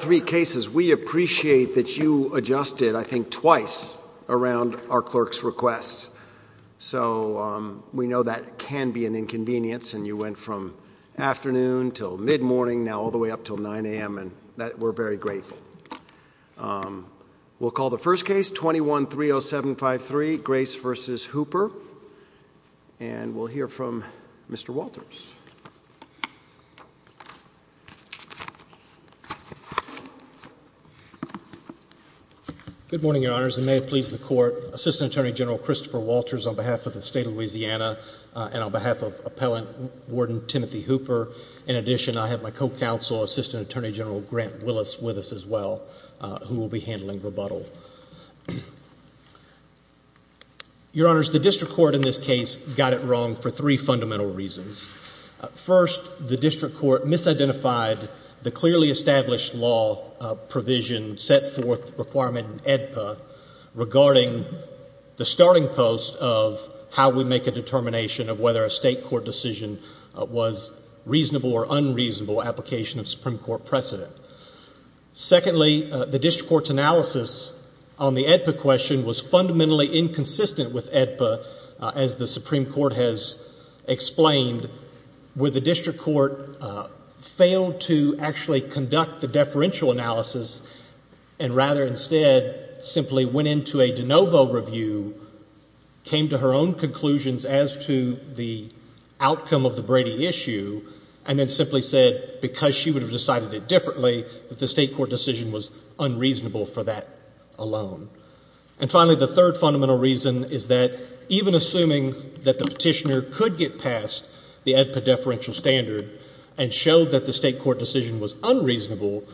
three cases. We appreciate that you adjusted, I think, twice around our clerk's requests. So we know that can be an inconvenience, and you went from afternoon till midmorning, now all the way up till 9 a.m., and we're very grateful. We'll call the first case, 21-30753, Grace v. Hooper, and we'll hear from Mr. Walters. Good morning, Your Honors, and may it please the Court, Assistant Attorney General Christopher Walters on behalf of the State of Louisiana and on behalf of Appellant Warden Timothy Hooper. In addition, I have my co-counsel, Assistant Attorney General Grant Willis with us as well, who will be handling rebuttal. Your Honors, the District Court in this case got it wrong for three fundamental reasons. First, the District Court misidentified the clearly established law provision, set forth requirement in AEDPA, regarding the starting post of how we make a determination of whether a state court decision was reasonable or unreasonable application of Supreme Court precedent. Secondly, the District Court's analysis on the AEDPA question was fundamentally inconsistent with AEDPA, as the Supreme Court has explained, where the District Court failed to actually conduct the deferential analysis and rather instead simply went into a de novo review, came to her own conclusions as to the outcome of the Brady issue, and then simply said because she would have decided it differently, that the state court decision was unreasonable for that alone. And finally, the third fundamental reason is that even assuming that the petitioner could get past the AEDPA deferential standard and showed that the state court decision was unreasonable,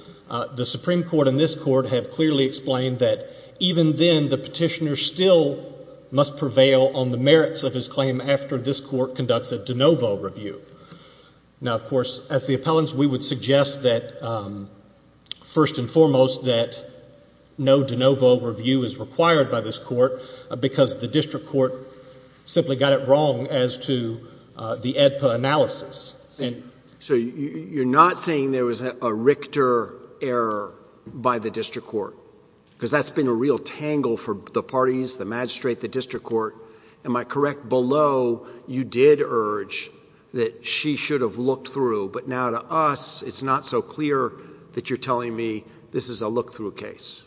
the Supreme Court and this Court have clearly explained that even then the plaintiff must prevail on the merits of his claim after this Court conducts a de novo review. Now, of course, as the appellants, we would suggest that first and foremost that no de novo review is required by this Court because the District Court simply got it wrong as to the AEDPA analysis. So you're not saying there was a Richter error by the District Court because that's been a real tangle for the parties, the magistrate, the District Court. Am I correct? Below, you did urge that she should have looked through, but now to us, it's not so clear that you're telling me this is a look-through case.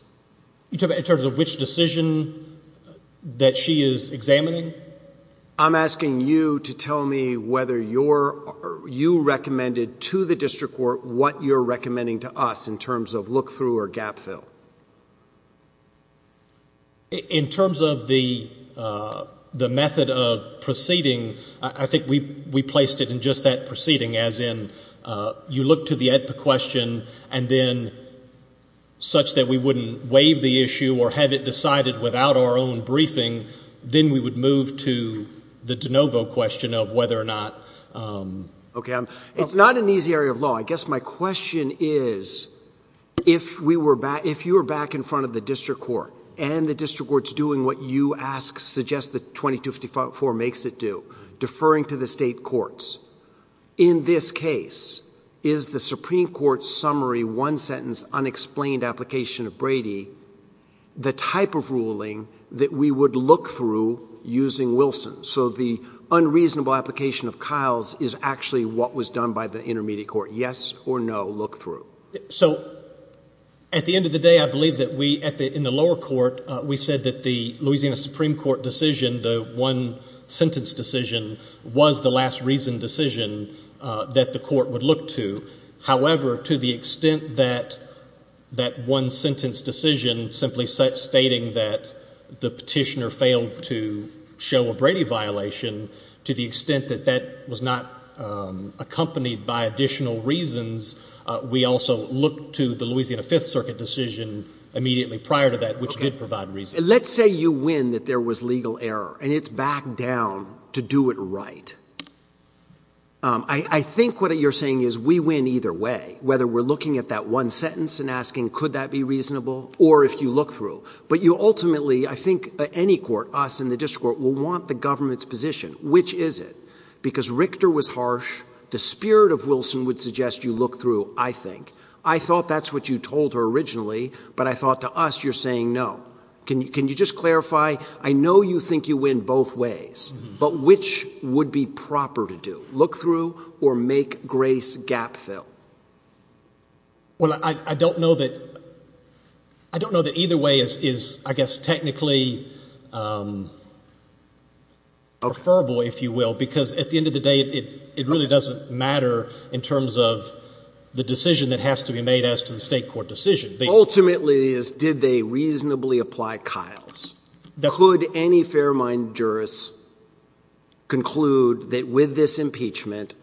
In terms of which decision that she is examining? I'm asking you to tell me whether you recommended to the District Court what you're recommending to us in terms of look-through or gap fill. In terms of the method of proceeding, I think we placed it in just that proceeding, as in you look to the AEDPA question and then, such that we wouldn't waive the issue or have it decided without our own briefing, then we would move to the de novo question of whether or not— Okay. It's not an easy area of law. I guess my question is, if you were back in front of the District Court and the District Court's doing what you ask, suggest that 2254 makes it do, deferring to the state courts, in this case, is the Supreme Court's summary one-sentence unexplained application of Brady the type of ruling that we would look through using Wilson? So the unreasonable application of Kyle's is actually what was done by the Intermediate Court. Yes or no look-through? So, at the end of the day, I believe that we, in the lower court, we said that the Louisiana Supreme Court decision, the one-sentence decision, was the last reason decision that the court would look to. However, to the extent that that one-sentence decision simply stating that the petitioner to show a Brady violation, to the extent that that was not accompanied by additional reasons, we also looked to the Louisiana Fifth Circuit decision immediately prior to that, which did provide reasons. Okay. Let's say you win that there was legal error, and it's back down to do it right. I think what you're saying is we win either way, whether we're looking at that one-sentence and asking could that be reasonable, or if you look through. But you ultimately, I think any court, us in the district court, will want the government's position. Which is it? Because Richter was harsh. The spirit of Wilson would suggest you look through, I think. I thought that's what you told her originally, but I thought to us you're saying no. Can you just clarify? I know you think you win both ways, but which would be proper to do? Look through or make grace gap fill? Well, I don't know that either way is, I guess, technically preferable, if you will, because at the end of the day, it really doesn't matter in terms of the decision that has to be made as to the state court decision. Ultimately is did they reasonably apply Kyle's? Could any fair-minded jurist conclude that with this impeachment,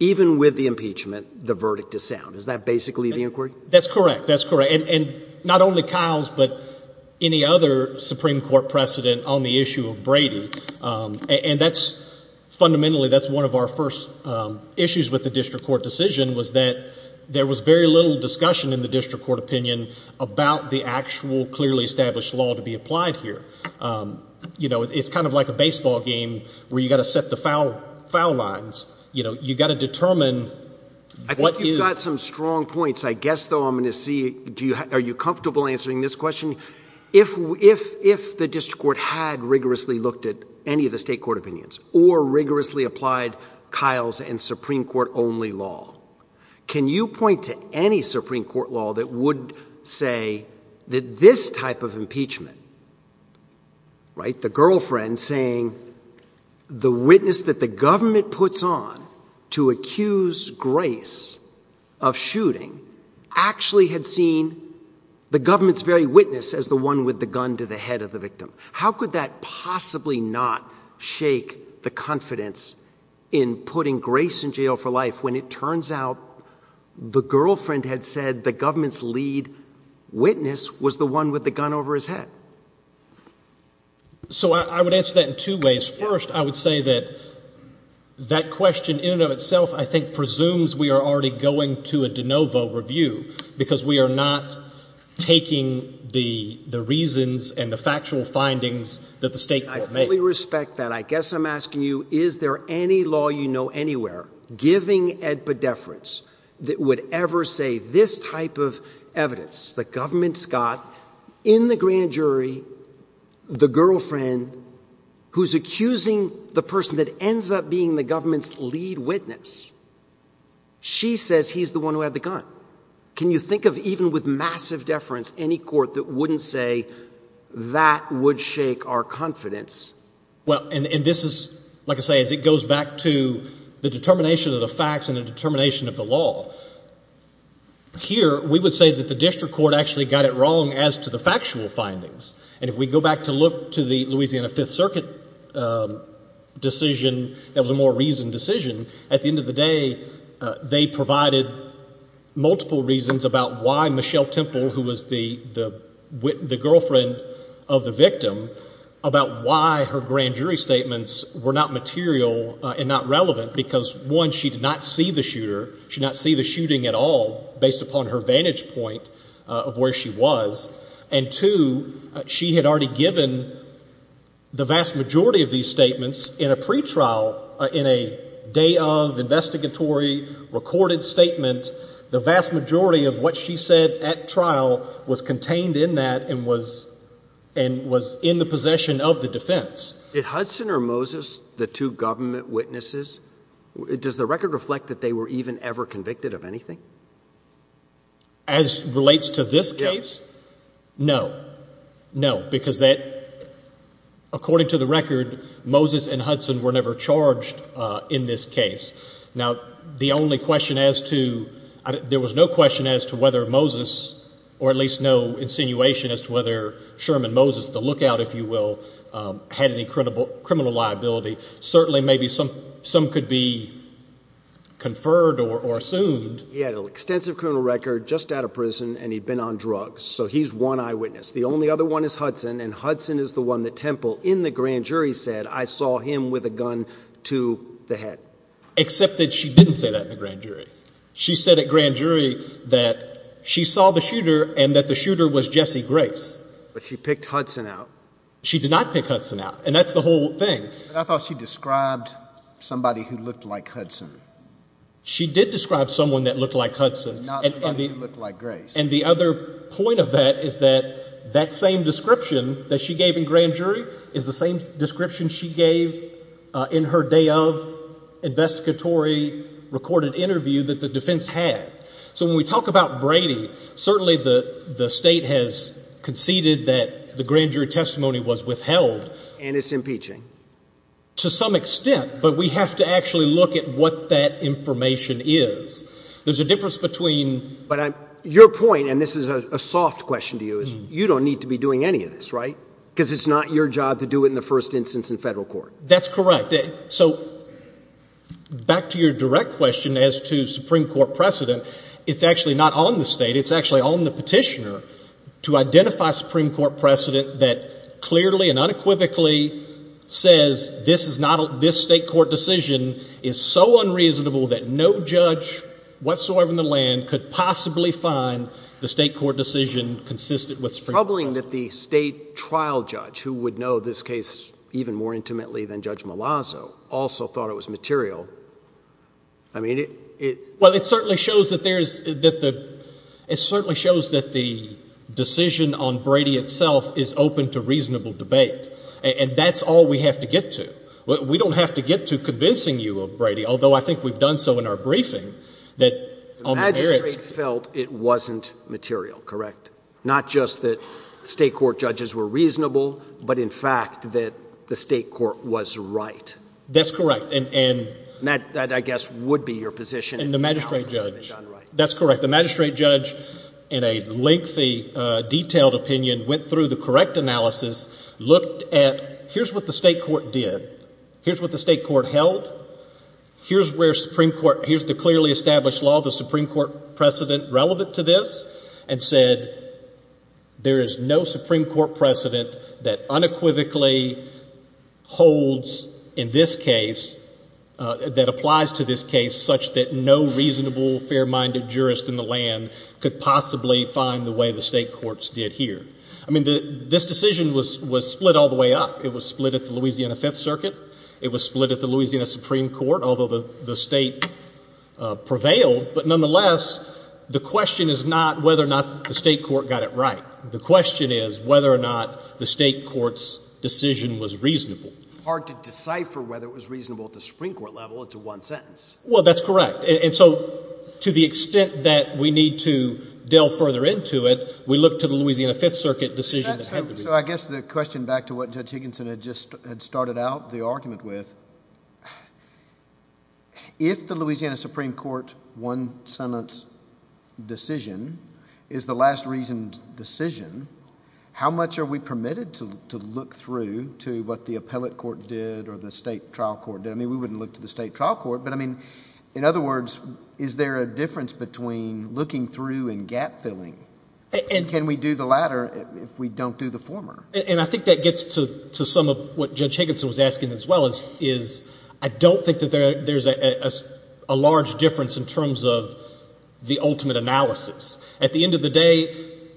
even with the impeachment, the verdict is sound? Is that basically the inquiry? That's correct. That's correct. And not only Kyle's, but any other Supreme Court precedent on the issue of Brady. And that's fundamentally, that's one of our first issues with the district court decision was that there was very little discussion in the district court opinion about the actual clearly established law to be applied here. You know, it's kind of like a baseball game where you've got to set the foul lines. You know, you've got to determine what is... I think you've got some strong points. I guess though I'm going to see, are you comfortable answering this question? If the district court had rigorously looked at any of the state court opinions or rigorously applied Kyle's and Supreme Court only law, can you point to any Supreme Court law that would say that this type of impeachment, right, the girlfriend saying the witness that the government puts on to accuse Grace of shooting actually had seen the government's very witness as the one with the gun to the head of the victim. How could that possibly not shake the confidence in putting Grace in jail for life when it lead witness was the one with the gun over his head? So I would answer that in two ways. First, I would say that that question in and of itself I think presumes we are already going to a de novo review because we are not taking the reasons and the factual findings that the state... I fully respect that. I guess I'm asking you, is there any law you know anywhere giving edpedeference that would ever say this type of evidence the government's got in the grand jury, the girlfriend who's accusing the person that ends up being the government's lead witness, she says he's the one who had the gun. Can you think of even with massive deference any court that wouldn't say that would shake our confidence? Well, and this is, like I say, as it goes back to the determination of the facts and the determination of the law. Here we would say that the district court actually got it wrong as to the factual findings. And if we go back to look to the Louisiana Fifth Circuit decision that was a more reasoned decision, at the end of the day they provided multiple reasons about why Michelle Temple, who was the girlfriend of the victim, about why her grand jury statements were not material and not relevant because, one, she did not see the shooter, she did not see the shooting at all based upon her vantage point of where she was, and two, she had already given the vast majority of these statements in a pretrial, in a day-of, investigatory, recorded statement. The vast majority of what she said at trial was contained in that and was in the possession of the defense. Did Hudson or Moses, the two government witnesses, does the record reflect that they were even ever convicted of anything? As relates to this case, no, no. Because that, according to the record, Moses and Hudson were never charged in this case. Now the only question as to, there was no question as to whether Moses, or at least no insinuation as to whether Sherman Moses, the lookout, if you will, had any criminal liability, certainly maybe some could be conferred or assumed. He had an extensive criminal record, just out of prison, and he'd been on drugs. So he's one eyewitness. The only other one is Hudson, and Hudson is the one that Temple, in the grand jury, said, I saw him with a gun to the head. Except that she didn't say that in the grand jury. She said at grand jury that she saw the shooter and that the shooter was Jesse Grace. But she picked Hudson out. She did not pick Hudson out. And that's the whole thing. But I thought she described somebody who looked like Hudson. She did describe someone that looked like Hudson. And not somebody who looked like Grace. And the other point of that is that that same description that she gave in grand jury is the same description she gave in her day of investigatory recorded interview that the defense had. So when we talk about Brady, certainly the state has conceded that the grand jury testimony was withheld. And it's impeaching. To some extent. But we have to actually look at what that information is. There's a difference between. But your point, and this is a soft question to you, is you don't need to be doing any of this, right? Because it's not your job to do it in the first instance in federal court. That's correct. So back to your direct question as to Supreme Court precedent. It's actually not on the state. It's actually on the petitioner to identify Supreme Court precedent that clearly and unequivocally says this is not, this state court decision is so unreasonable that no judge whatsoever in the land could possibly find the state court decision consistent with Supreme Court decision. So knowing that the state trial judge who would know this case even more intimately than Judge Malazzo also thought it was material, I mean it. Well it certainly shows that there's, that the, it certainly shows that the decision on Brady itself is open to reasonable debate. And that's all we have to get to. We don't have to get to convincing you of Brady, although I think we've done so in our briefing that. The magistrate felt it wasn't material, correct? Not just that state court judges were reasonable, but in fact that the state court was right. That's correct. And that, that I guess would be your position. And the magistrate judge. That's correct. The magistrate judge in a lengthy, detailed opinion went through the correct analysis, looked at here's what the state court did. Here's what the state court held. Here's where Supreme Court, here's the clearly established law of the Supreme Court precedent relevant to this, and said there is no Supreme Court precedent that unequivocally holds in this case, that applies to this case such that no reasonable, fair-minded jurist in the land could possibly find the way the state courts did here. I mean this decision was split all the way up. It was split at the Louisiana Fifth Circuit. It was split at the Louisiana Supreme Court, although the state prevailed. But nonetheless, the question is not whether or not the state court got it right. The question is whether or not the state court's decision was reasonable. Hard to decipher whether it was reasonable at the Supreme Court level. It's a one sentence. Well, that's correct. And so to the extent that we need to delve further into it, we look to the Louisiana Fifth Circuit decision that had the reason. So I guess the question back to what Judge Higginson had just started out the argument with, if the Louisiana Supreme Court one sentence decision is the last reasoned decision, how much are we permitted to look through to what the appellate court did or the state trial court did? I mean we wouldn't look to the state trial court, but I mean, in other words, is there a difference between looking through and gap filling? Can we do the latter if we don't do the former? And I think that gets to some of what Judge Higginson was asking as well, is I don't think that there's a large difference in terms of the ultimate analysis. At the end of the day,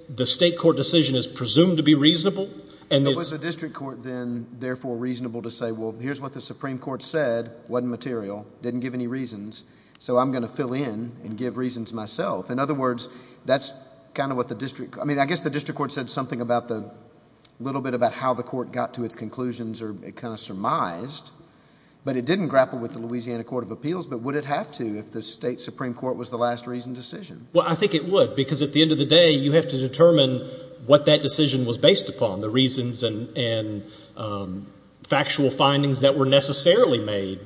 the state court decision is presumed to be reasonable. And was the district court then therefore reasonable to say, well, here's what the Supreme Court said, wasn't material, didn't give any reasons, so I'm going to fill in and give reasons myself. In other words, that's kind of what the district, I mean, I guess the district court said something about the, a little bit about how the court got to its conclusions or it kind of surmised, but it didn't grapple with the Louisiana Court of Appeals, but would it have to if the state Supreme Court was the last reasoned decision? Well, I think it would, because at the end of the day, you have to determine what that decision was based upon, the reasons and factual findings that were necessarily made.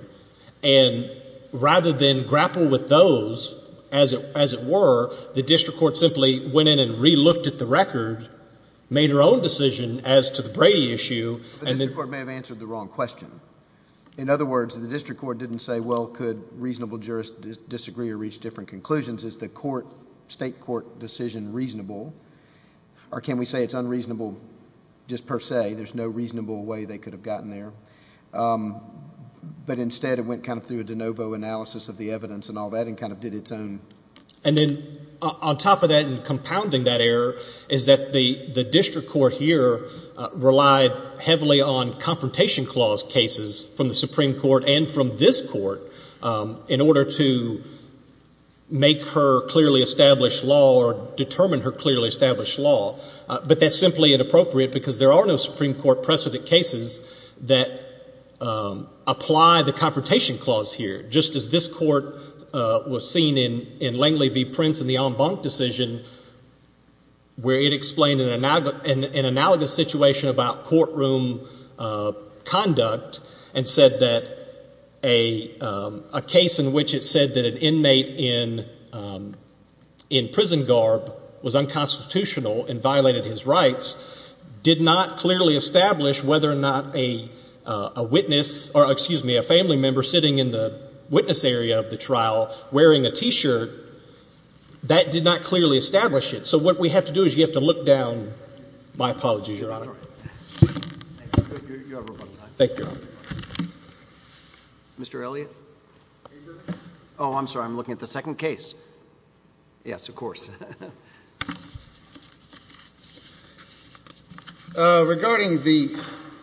And rather than grapple with those as it were, the district court simply went in and re-looked at the record, made her own decision as to the Brady issue, and then... The district court may have answered the wrong question. In other words, the district court didn't say, well, could reasonable jurists disagree or reach different conclusions? Is the court, state court decision reasonable? Or can we say it's unreasonable just per se? There's no reasonable way they could have gotten there. But instead, it went kind of through a de novo analysis of the evidence and all that and kind of did its own... And then on top of that and compounding that error is that the district court here relied heavily on confrontation clause cases from the Supreme Court and from this court in order to make her clearly establish law or determine her clearly establish law. But that's simply inappropriate because there are no Supreme Court precedent cases that apply the confrontation clause here. Just as this court was seen in Langley v. Prince in the en banc decision where it explained an analogous situation about courtroom conduct and said that a case in which it said that an inmate in prison garb was unconstitutional and violated his rights did not clearly establish whether or not a witness, or excuse me, a family member sitting in the witness area of the trial wearing a t-shirt, that did not clearly establish it. So what we have to do is you have to look down... My apologies, Your Honor. Thank you, Your Honor. Mr. Elliott? Oh, I'm sorry. I'm looking at the second case. Yes, of course. Regarding the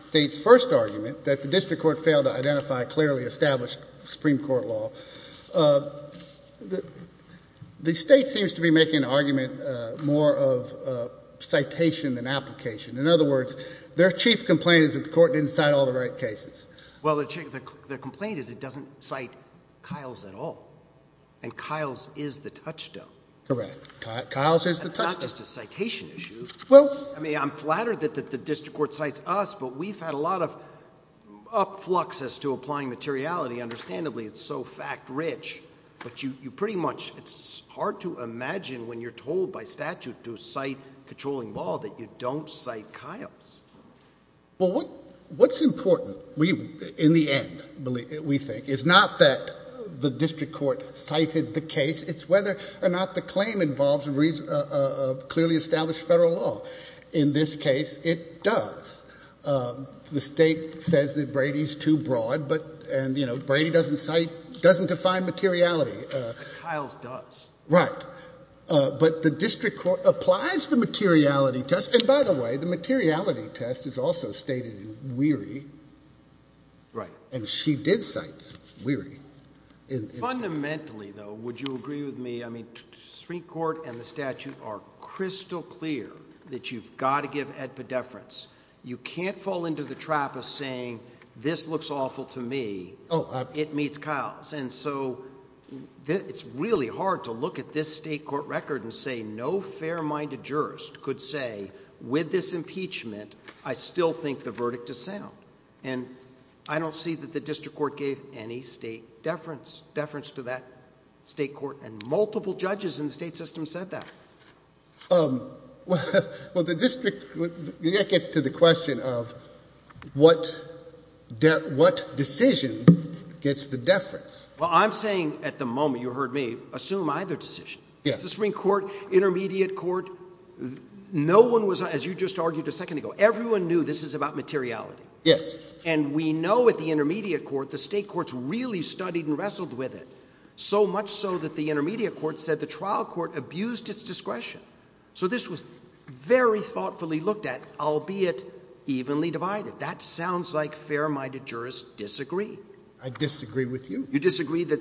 state's first argument that the district court failed to identify clearly established Supreme Court law, the state seems to be making an argument more of citation than application. In other words, their chief complaint is that the court didn't cite all the right cases. Well, their complaint is it doesn't cite Kiles at all, and Kiles is the touchstone. That's not just a citation issue. I mean, I'm flattered that the district court cites us, but we've had a lot of upflux as to applying materiality. Understandably, it's so fact-rich, but you pretty much... It's hard to imagine when you're told by statute to cite controlling law that you don't cite Kiles. What's important in the end, we think, is not that the district court cited the case. It's whether or not the claim involves a clearly established federal law. In this case, it does. The state says that Brady's too broad, and Brady doesn't cite, doesn't define materiality. But Kiles does. Right. But the district court applies the materiality test, and by the way, the materiality test is also stated in Weary, and she did cite Weary. Fundamentally, though, would you agree with me? I mean, Supreme Court and the statute are crystal clear that you've got to give epideference. You can't fall into the trap of saying, this looks awful to me. It meets Kiles. It's really hard to look at this state court record and say no fair-minded jurist could say, with this impeachment, I still think the verdict is sound. I don't see that the district court gave any state deference to that state court, and multiple judges in the state system said that. Well, that gets to the question of what decision gets the deference. Well, I'm saying at the moment, you heard me, assume either decision. The Supreme Court, Intermediate Court, no one was, as you just argued a second ago, everyone knew this is about materiality. Yes. And we know at the Intermediate Court, the state courts really studied and wrestled with it, so much so that the Intermediate Court said the trial court abused its discretion. So this was very thoughtfully looked at, albeit evenly divided. That sounds like fair-minded jurists disagree. I disagree with you. You disagree that,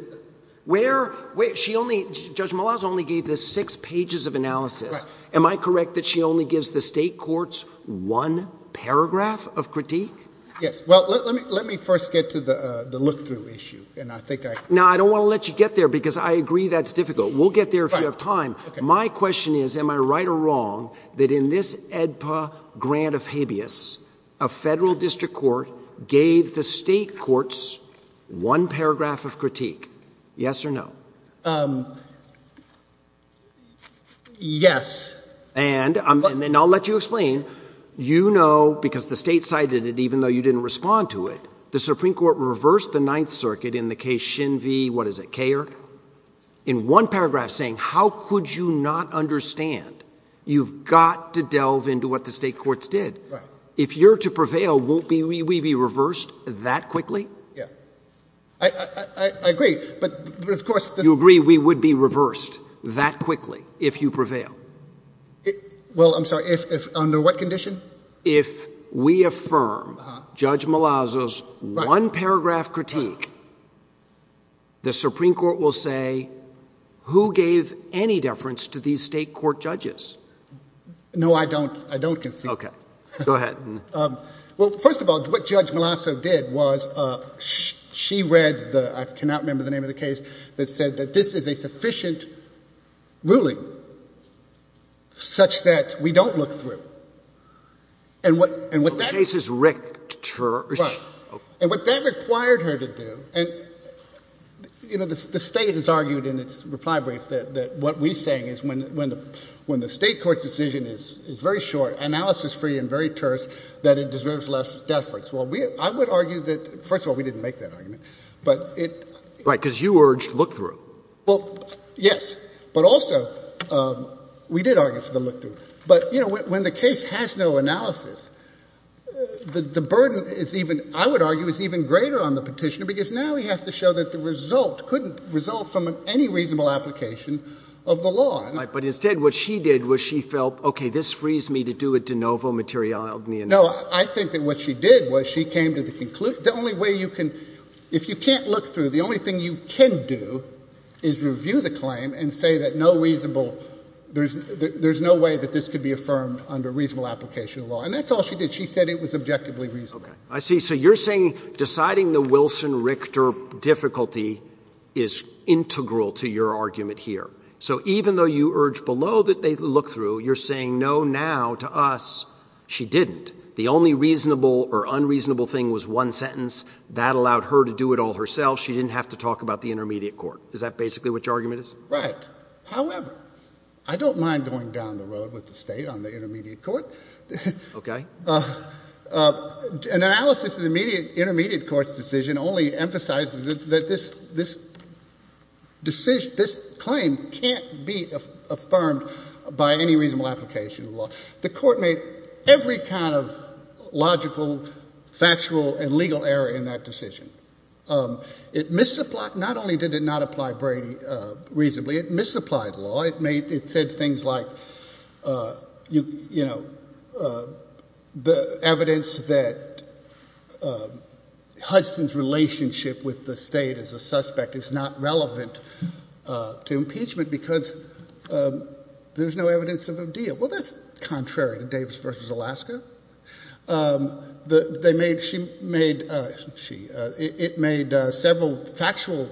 where, she only, Judge Malazzo only gave the six pages of analysis. Am I correct that she only gives the state courts one paragraph of critique? Yes. Well, let me first get to the look-through issue, and I think I... Now I don't want to let you get there, because I agree that's difficult. We'll get there if you have time. My question is, am I right or wrong that in this AEDPA grant of habeas, a federal district court gave the state courts one paragraph of critique? Yes or no? Yes. And I'll let you explain. You know, because the state cited it, even though you didn't respond to it, the Supreme Court reversed the Ninth Circuit in the case Shin v., what is it, Kayer? In one paragraph saying, how could you not understand? You've got to delve into what the state courts did. If you're to prevail, won't we be reversed that quickly? Yeah. I agree, but of course... You agree we would be reversed that quickly if you prevail? Well, I'm sorry, if under what condition? If we affirm Judge Malazzo's one paragraph critique, the Supreme Court will say, who gave any deference to these state court judges? No, I don't concede that. Okay. Go ahead. Well, first of all, what Judge Malazzo did was she read the, I cannot remember the name of the case, that said that this is a sufficient ruling such that we don't look through. But the case is written. Right. And what that required her to do, and you know, the state has argued in its reply brief that what we're saying is when the state court's decision is very short, analysis-free and very terse, that it deserves less deference. Well, I would argue that, first of all, we didn't make that argument, but it... Right, because you urged look-through. Well, yes, but also, we did argue for the look-through. But you know, when the case has no analysis, the burden is even, I would argue, is even greater on the petitioner because now he has to show that the result couldn't result from any reasonable application of the law. Right. But instead, what she did was she felt, okay, this frees me to do a de novo materialgna analysis. No. I think that what she did was she came to the conclusion, the only way you can, if you can't look through, the only thing you can do is review the claim and say that no reasonable, there's no way that this could be affirmed under reasonable application of law. And that's all she did. She said it was objectively reasonable. Yes. Okay. I see. So you're saying deciding the Wilson-Richter difficulty is integral to your argument here. So even though you urged below that they look through, you're saying no, now, to us, she didn't. The only reasonable or unreasonable thing was one sentence. That allowed her to do it all herself. She didn't have to talk about the intermediate court. Is that basically what your argument is? Right. However, I don't mind going down the road with the state on the intermediate court. An analysis of the intermediate court's decision only emphasizes that this claim can't be affirmed by any reasonable application of the law. The court made every kind of logical, factual, and legal error in that decision. It misapplied, not only did it not apply Brady reasonably, it misapplied law. It said things like, you know, the evidence that Hudson's relationship with the state as a suspect is not relevant to impeachment because there's no evidence of a deal. Well, that's contrary to Davis v. Alaska. It made several factual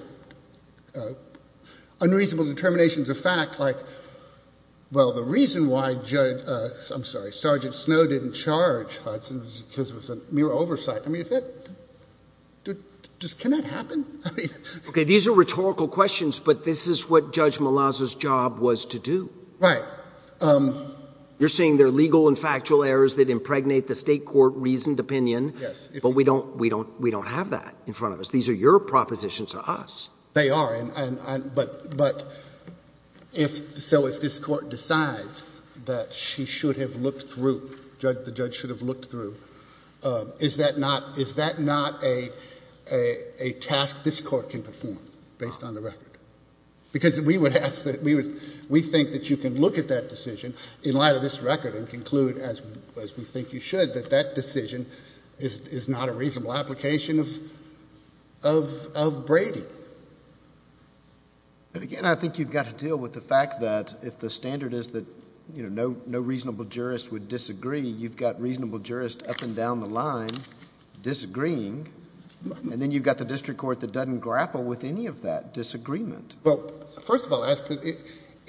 unreasonable determinations of fact, like, well, the reason why Judge, I'm sorry, Sergeant Snow didn't charge Hudson because it was a mere oversight. I mean, is that, can that happen? Okay, these are rhetorical questions, but this is what Judge Malazzo's job was to do. Right. You're saying they're legal and factual errors that impregnate the state court reasoned opinion, but we don't have that in front of us. These are your propositions to They are, but if, so if this court decides that she should have looked through, Judge, the judge should have looked through, is that not, is that not a task this court can perform based on the record? Because we would ask that, we think that you can look at that decision in light of this record and conclude as we think you should, that that decision is not a But again, I think you've got to deal with the fact that if the standard is that, you know, no, no reasonable jurist would disagree, you've got reasonable jurist up and down the line disagreeing, and then you've got the district court that doesn't grapple with any of that disagreement. Well, first of all, as to,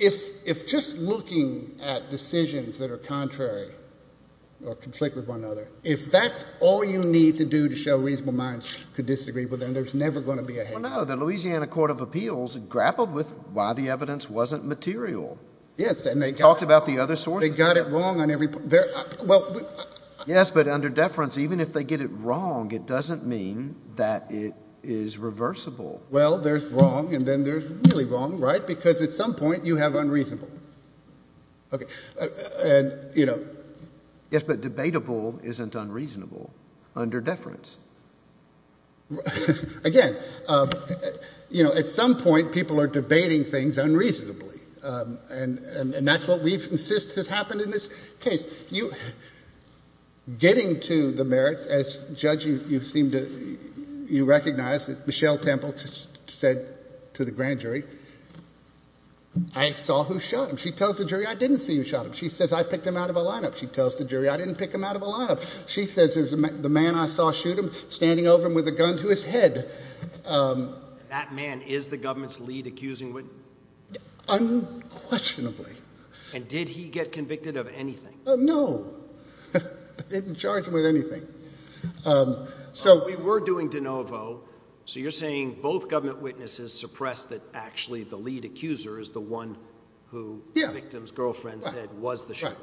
if, if just looking at decisions that are contrary or conflict with one another, if that's all you need to do to show reasonable minds could disagree with, then there's never going to be a Well, no, the Louisiana court of appeals grappled with why the evidence wasn't material. Yes. And they talked about the other source. They got it wrong on every, well, yes, but under deference, even if they get it wrong, it doesn't mean that it is reversible. Well, there's wrong. And then there's really wrong, right? Because at some point you have unreasonable. Okay. And, you know, yes, but debatable isn't unreasonable under deference. Again, you know, at some point people are debating things unreasonably. And, and, and that's what we've insist has happened in this case. You, getting to the merits as judge, you, you seem to, you recognize that Michelle Temple said to the grand jury, I saw who shot him. She tells the jury, I didn't see who shot him. She says, I picked him out of a lineup. She tells the jury, I didn't pick him out of a lineup. She says, there's the man I saw shoot him standing over him with a gun to his head. Um, that man is the government's lead accusing unquestionably. And did he get convicted of anything? No, didn't charge him with anything. Um, so we were doing DeNovo. So you're saying both government witnesses suppressed that actually the lead accuser is the one who the victim's girlfriend said was the shooter.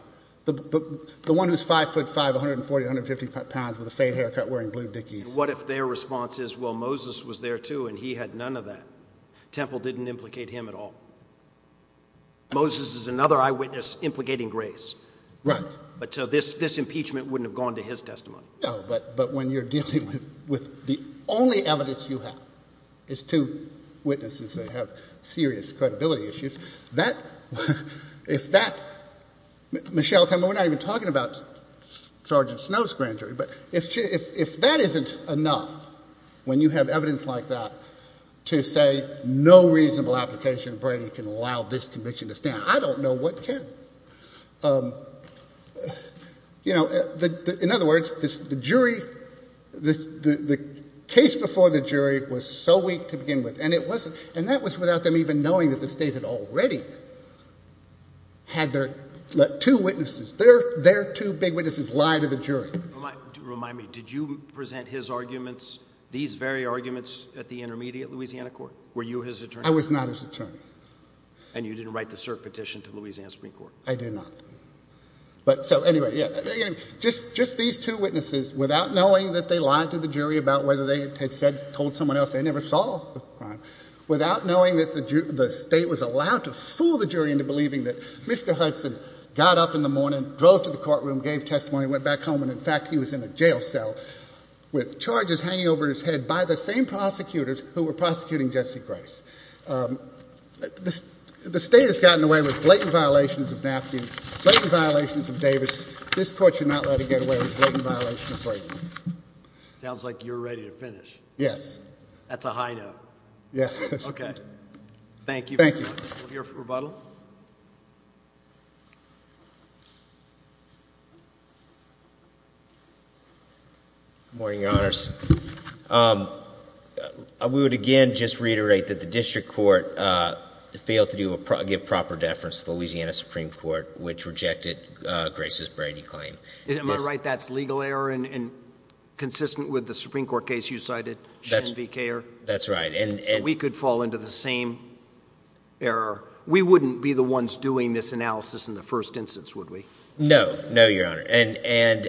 The one who's five foot five, 140, 150 pounds with a fade haircut, wearing blue dickies. What if their response is, well, Moses was there too. And he had none of that. Temple didn't implicate him at all. Moses is another eyewitness implicating grace. Right. But so this, this impeachment wouldn't have gone to his testimony. No, but, but when you're dealing with, with the only evidence you is two witnesses that have serious credibility issues that if that Michelle, we're not even talking about Sergeant Snow's grand jury, but if, if, if that isn't enough, when you have evidence like that to say no reasonable application, Brady can allow this conviction to stand. I don't know what can, um, you know, the, the, in other words, this, the jury, the, the, the case before the jury was so weak to begin with, and it wasn't, and that was without them even knowing that the state had already had their two witnesses, their, their two big witnesses lie to the jury. Remind me, did you present his arguments, these very arguments at the intermediate Louisiana court were you his attorney? I was not his attorney. And you didn't write the cert petition to Louisiana Supreme court. I did not. But so anyway, just, just these two witnesses without knowing that they lied to the jury about whether they had said, told someone else, they never saw the crime without knowing that the state was allowed to fool the jury into believing that Mr. Hudson got up in the morning, drove to the courtroom, gave testimony, went back home. And in fact, he was in a jail cell with charges hanging over his head by the same prosecutors who were prosecuting Jesse Grace. Um, the state has gotten away with blatant violations of napkin, blatant violations of Davis. This court should not let it get away with blatant violation of Brady. Sounds like you're ready to finish. Yes. That's a high note. Yeah. Okay. Thank you. Thank you. Morning, your honors. Um, uh, we would again, just reiterate that the district court, uh, failed to do a pro give proper deference to Louisiana Supreme court, which rejected, uh, grace's Brady claim. Am I right? That's legal error and consistent with the Supreme court case you cited. That's the care. That's right. And we could fall into the same error. We wouldn't be the ones doing this analysis in the first instance, would we? No, no, your honor. And, and,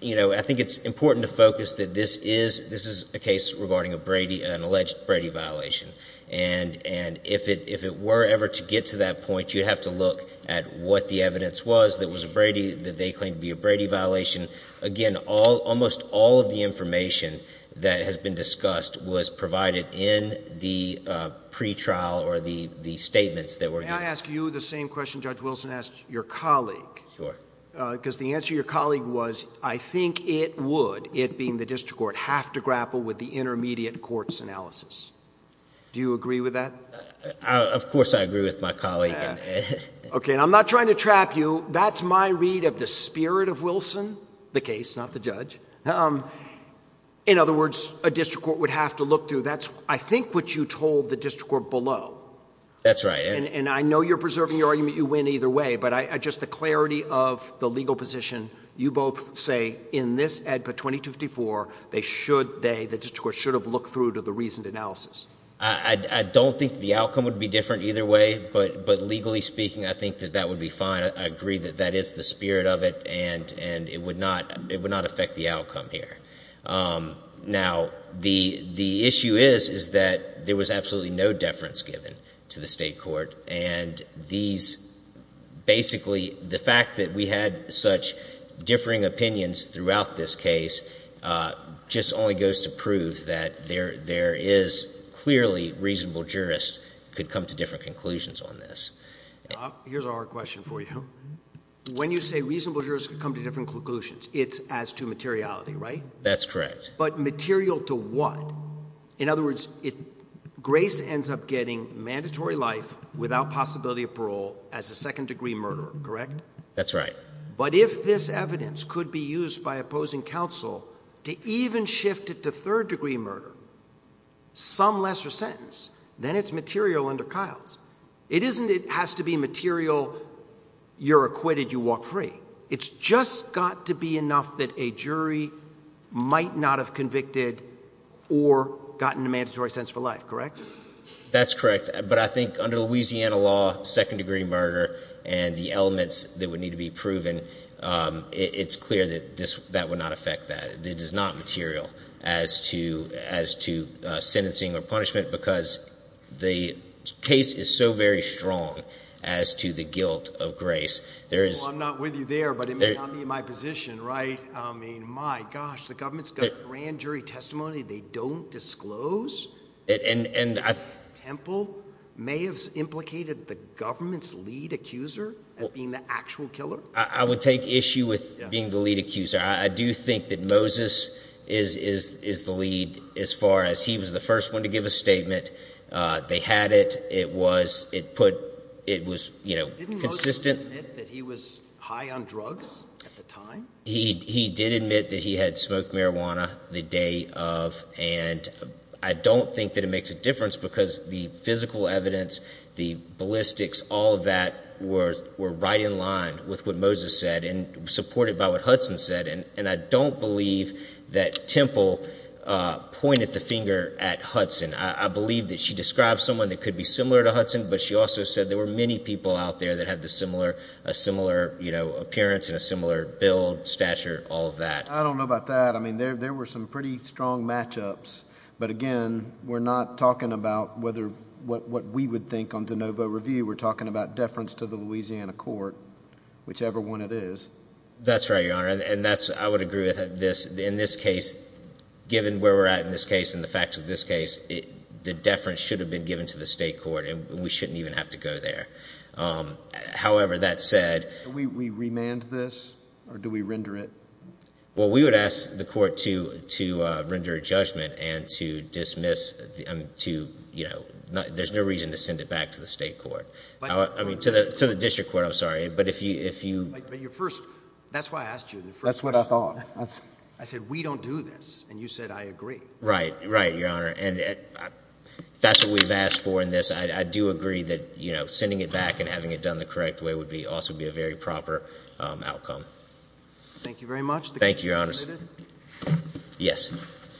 you know, I think it's important to focus that this is, this is a case regarding a Brady, an alleged Brady violation. And, and if it, if it were ever to get to that point, you'd have to look at what the evidence was. That was a Brady that they claimed to be a Brady violation. Again, all, almost all of the information that has been discussed was provided in the, uh, pretrial or the, the statements that were, I ask you the same question. Judge Wilson asked your colleague, because the answer your colleague was, I think it would, it being the district court have to grapple with the intermediate courts analysis. Do you agree with that? Of course I agree with my colleague. Okay. And I'm not trying to trap you. That's my read of the spirit of Wilson, the case, not the judge. Um, in other words, a district court would have to look through that's I think what you told the district court below. That's right. And, and I know you're preserving your argument. You went either way, but I, I just, the clarity of the legal position, you both say in this ad for 20 to 54, they should, they, the district court should have looked through to the reasoned analysis. I don't think the outcome would be different either way, but, but legally speaking, I think that that would be fine. I agree that that is the spirit of it and, and it would not, it would not affect the outcome here. Um, now the, the issue is, is that there was absolutely no deference given to the state court. And these, basically the fact that we had such differing opinions throughout this case, uh, just only goes to prove that there, there is clearly reasonable jurists could come to different conclusions on this. Uh, here's our question for you. When you say reasonable jurists could come to different conclusions, it's as to materiality, right? That's correct. But material to what? In other words, it, Grace ends up getting mandatory life without possibility of parole as a second degree murderer, correct? That's right. But if this evidence could be used by opposing counsel to even shift it to third degree murder, some lesser sentence, then it's material under Kyle's. It isn't, it has to be material. You're acquitted, you walk free. It's just got to be enough that a jury might not have convicted or gotten a mandatory sense for life, correct? That's correct. But I think under Louisiana law, second degree murder and the elements that would be proven, um, it's clear that this, that would not affect that. It does not material as to, as to, uh, sentencing or punishment because the case is so very strong as to the guilt of Grace. There is, I'm not with you there, but it may not be my position, right? I mean, my gosh, the government's got grand jury testimony. They don't disclose it. And, and Temple may have implicated the government's lead accuser as being the actual killer. I would take issue with being the lead accuser. I do think that Moses is, is, is the lead as far as he was the first one to give a statement. Uh, they had it. It was, it put, it was, you know, consistent that he was high on drugs at the time. He, he did admit that he had smoked marijuana the day of. And I don't think that it makes a difference because the physical evidence, the ballistics, all of that were, were right in line with what Moses said and supported by what Hudson said. And, and I don't believe that Temple, uh, pointed the finger at Hudson. I believe that she described someone that could be similar to Hudson, but she also said there were many people out there that had the similar, a similar, you know, appearance and a similar build stature, all of that. I don't know about that. I mean, there, there were some pretty strong matchups, but again, we're not talking about whether what, what we would think on DeNovo review, we're talking about deference to the Louisiana court, whichever one it is. That's right, Your Honor. And that's, I would agree with this in this case, given where we're at in this case and the facts of this case, the deference should have been given to the state court and we shouldn't even have to go there. Um, however, that said, we, we remand this, or do we render it? Well, we would ask the court to, to, uh, render a judgment and to dismiss the, um, to, you know, there's no reason to send it back to the state court. I mean, to the, to the district court, I'm sorry, but if you, if you, but your first, that's why I asked you. That's what I thought. I said, we don't do this. And you said, I agree. Right, right. Your Honor. And that's what we've asked for in this. I do agree that, you know, sending it back and having it done the correct way would be, also be a very proper, um, outcome. Thank you very much. Thank you, Your Honor. Yes.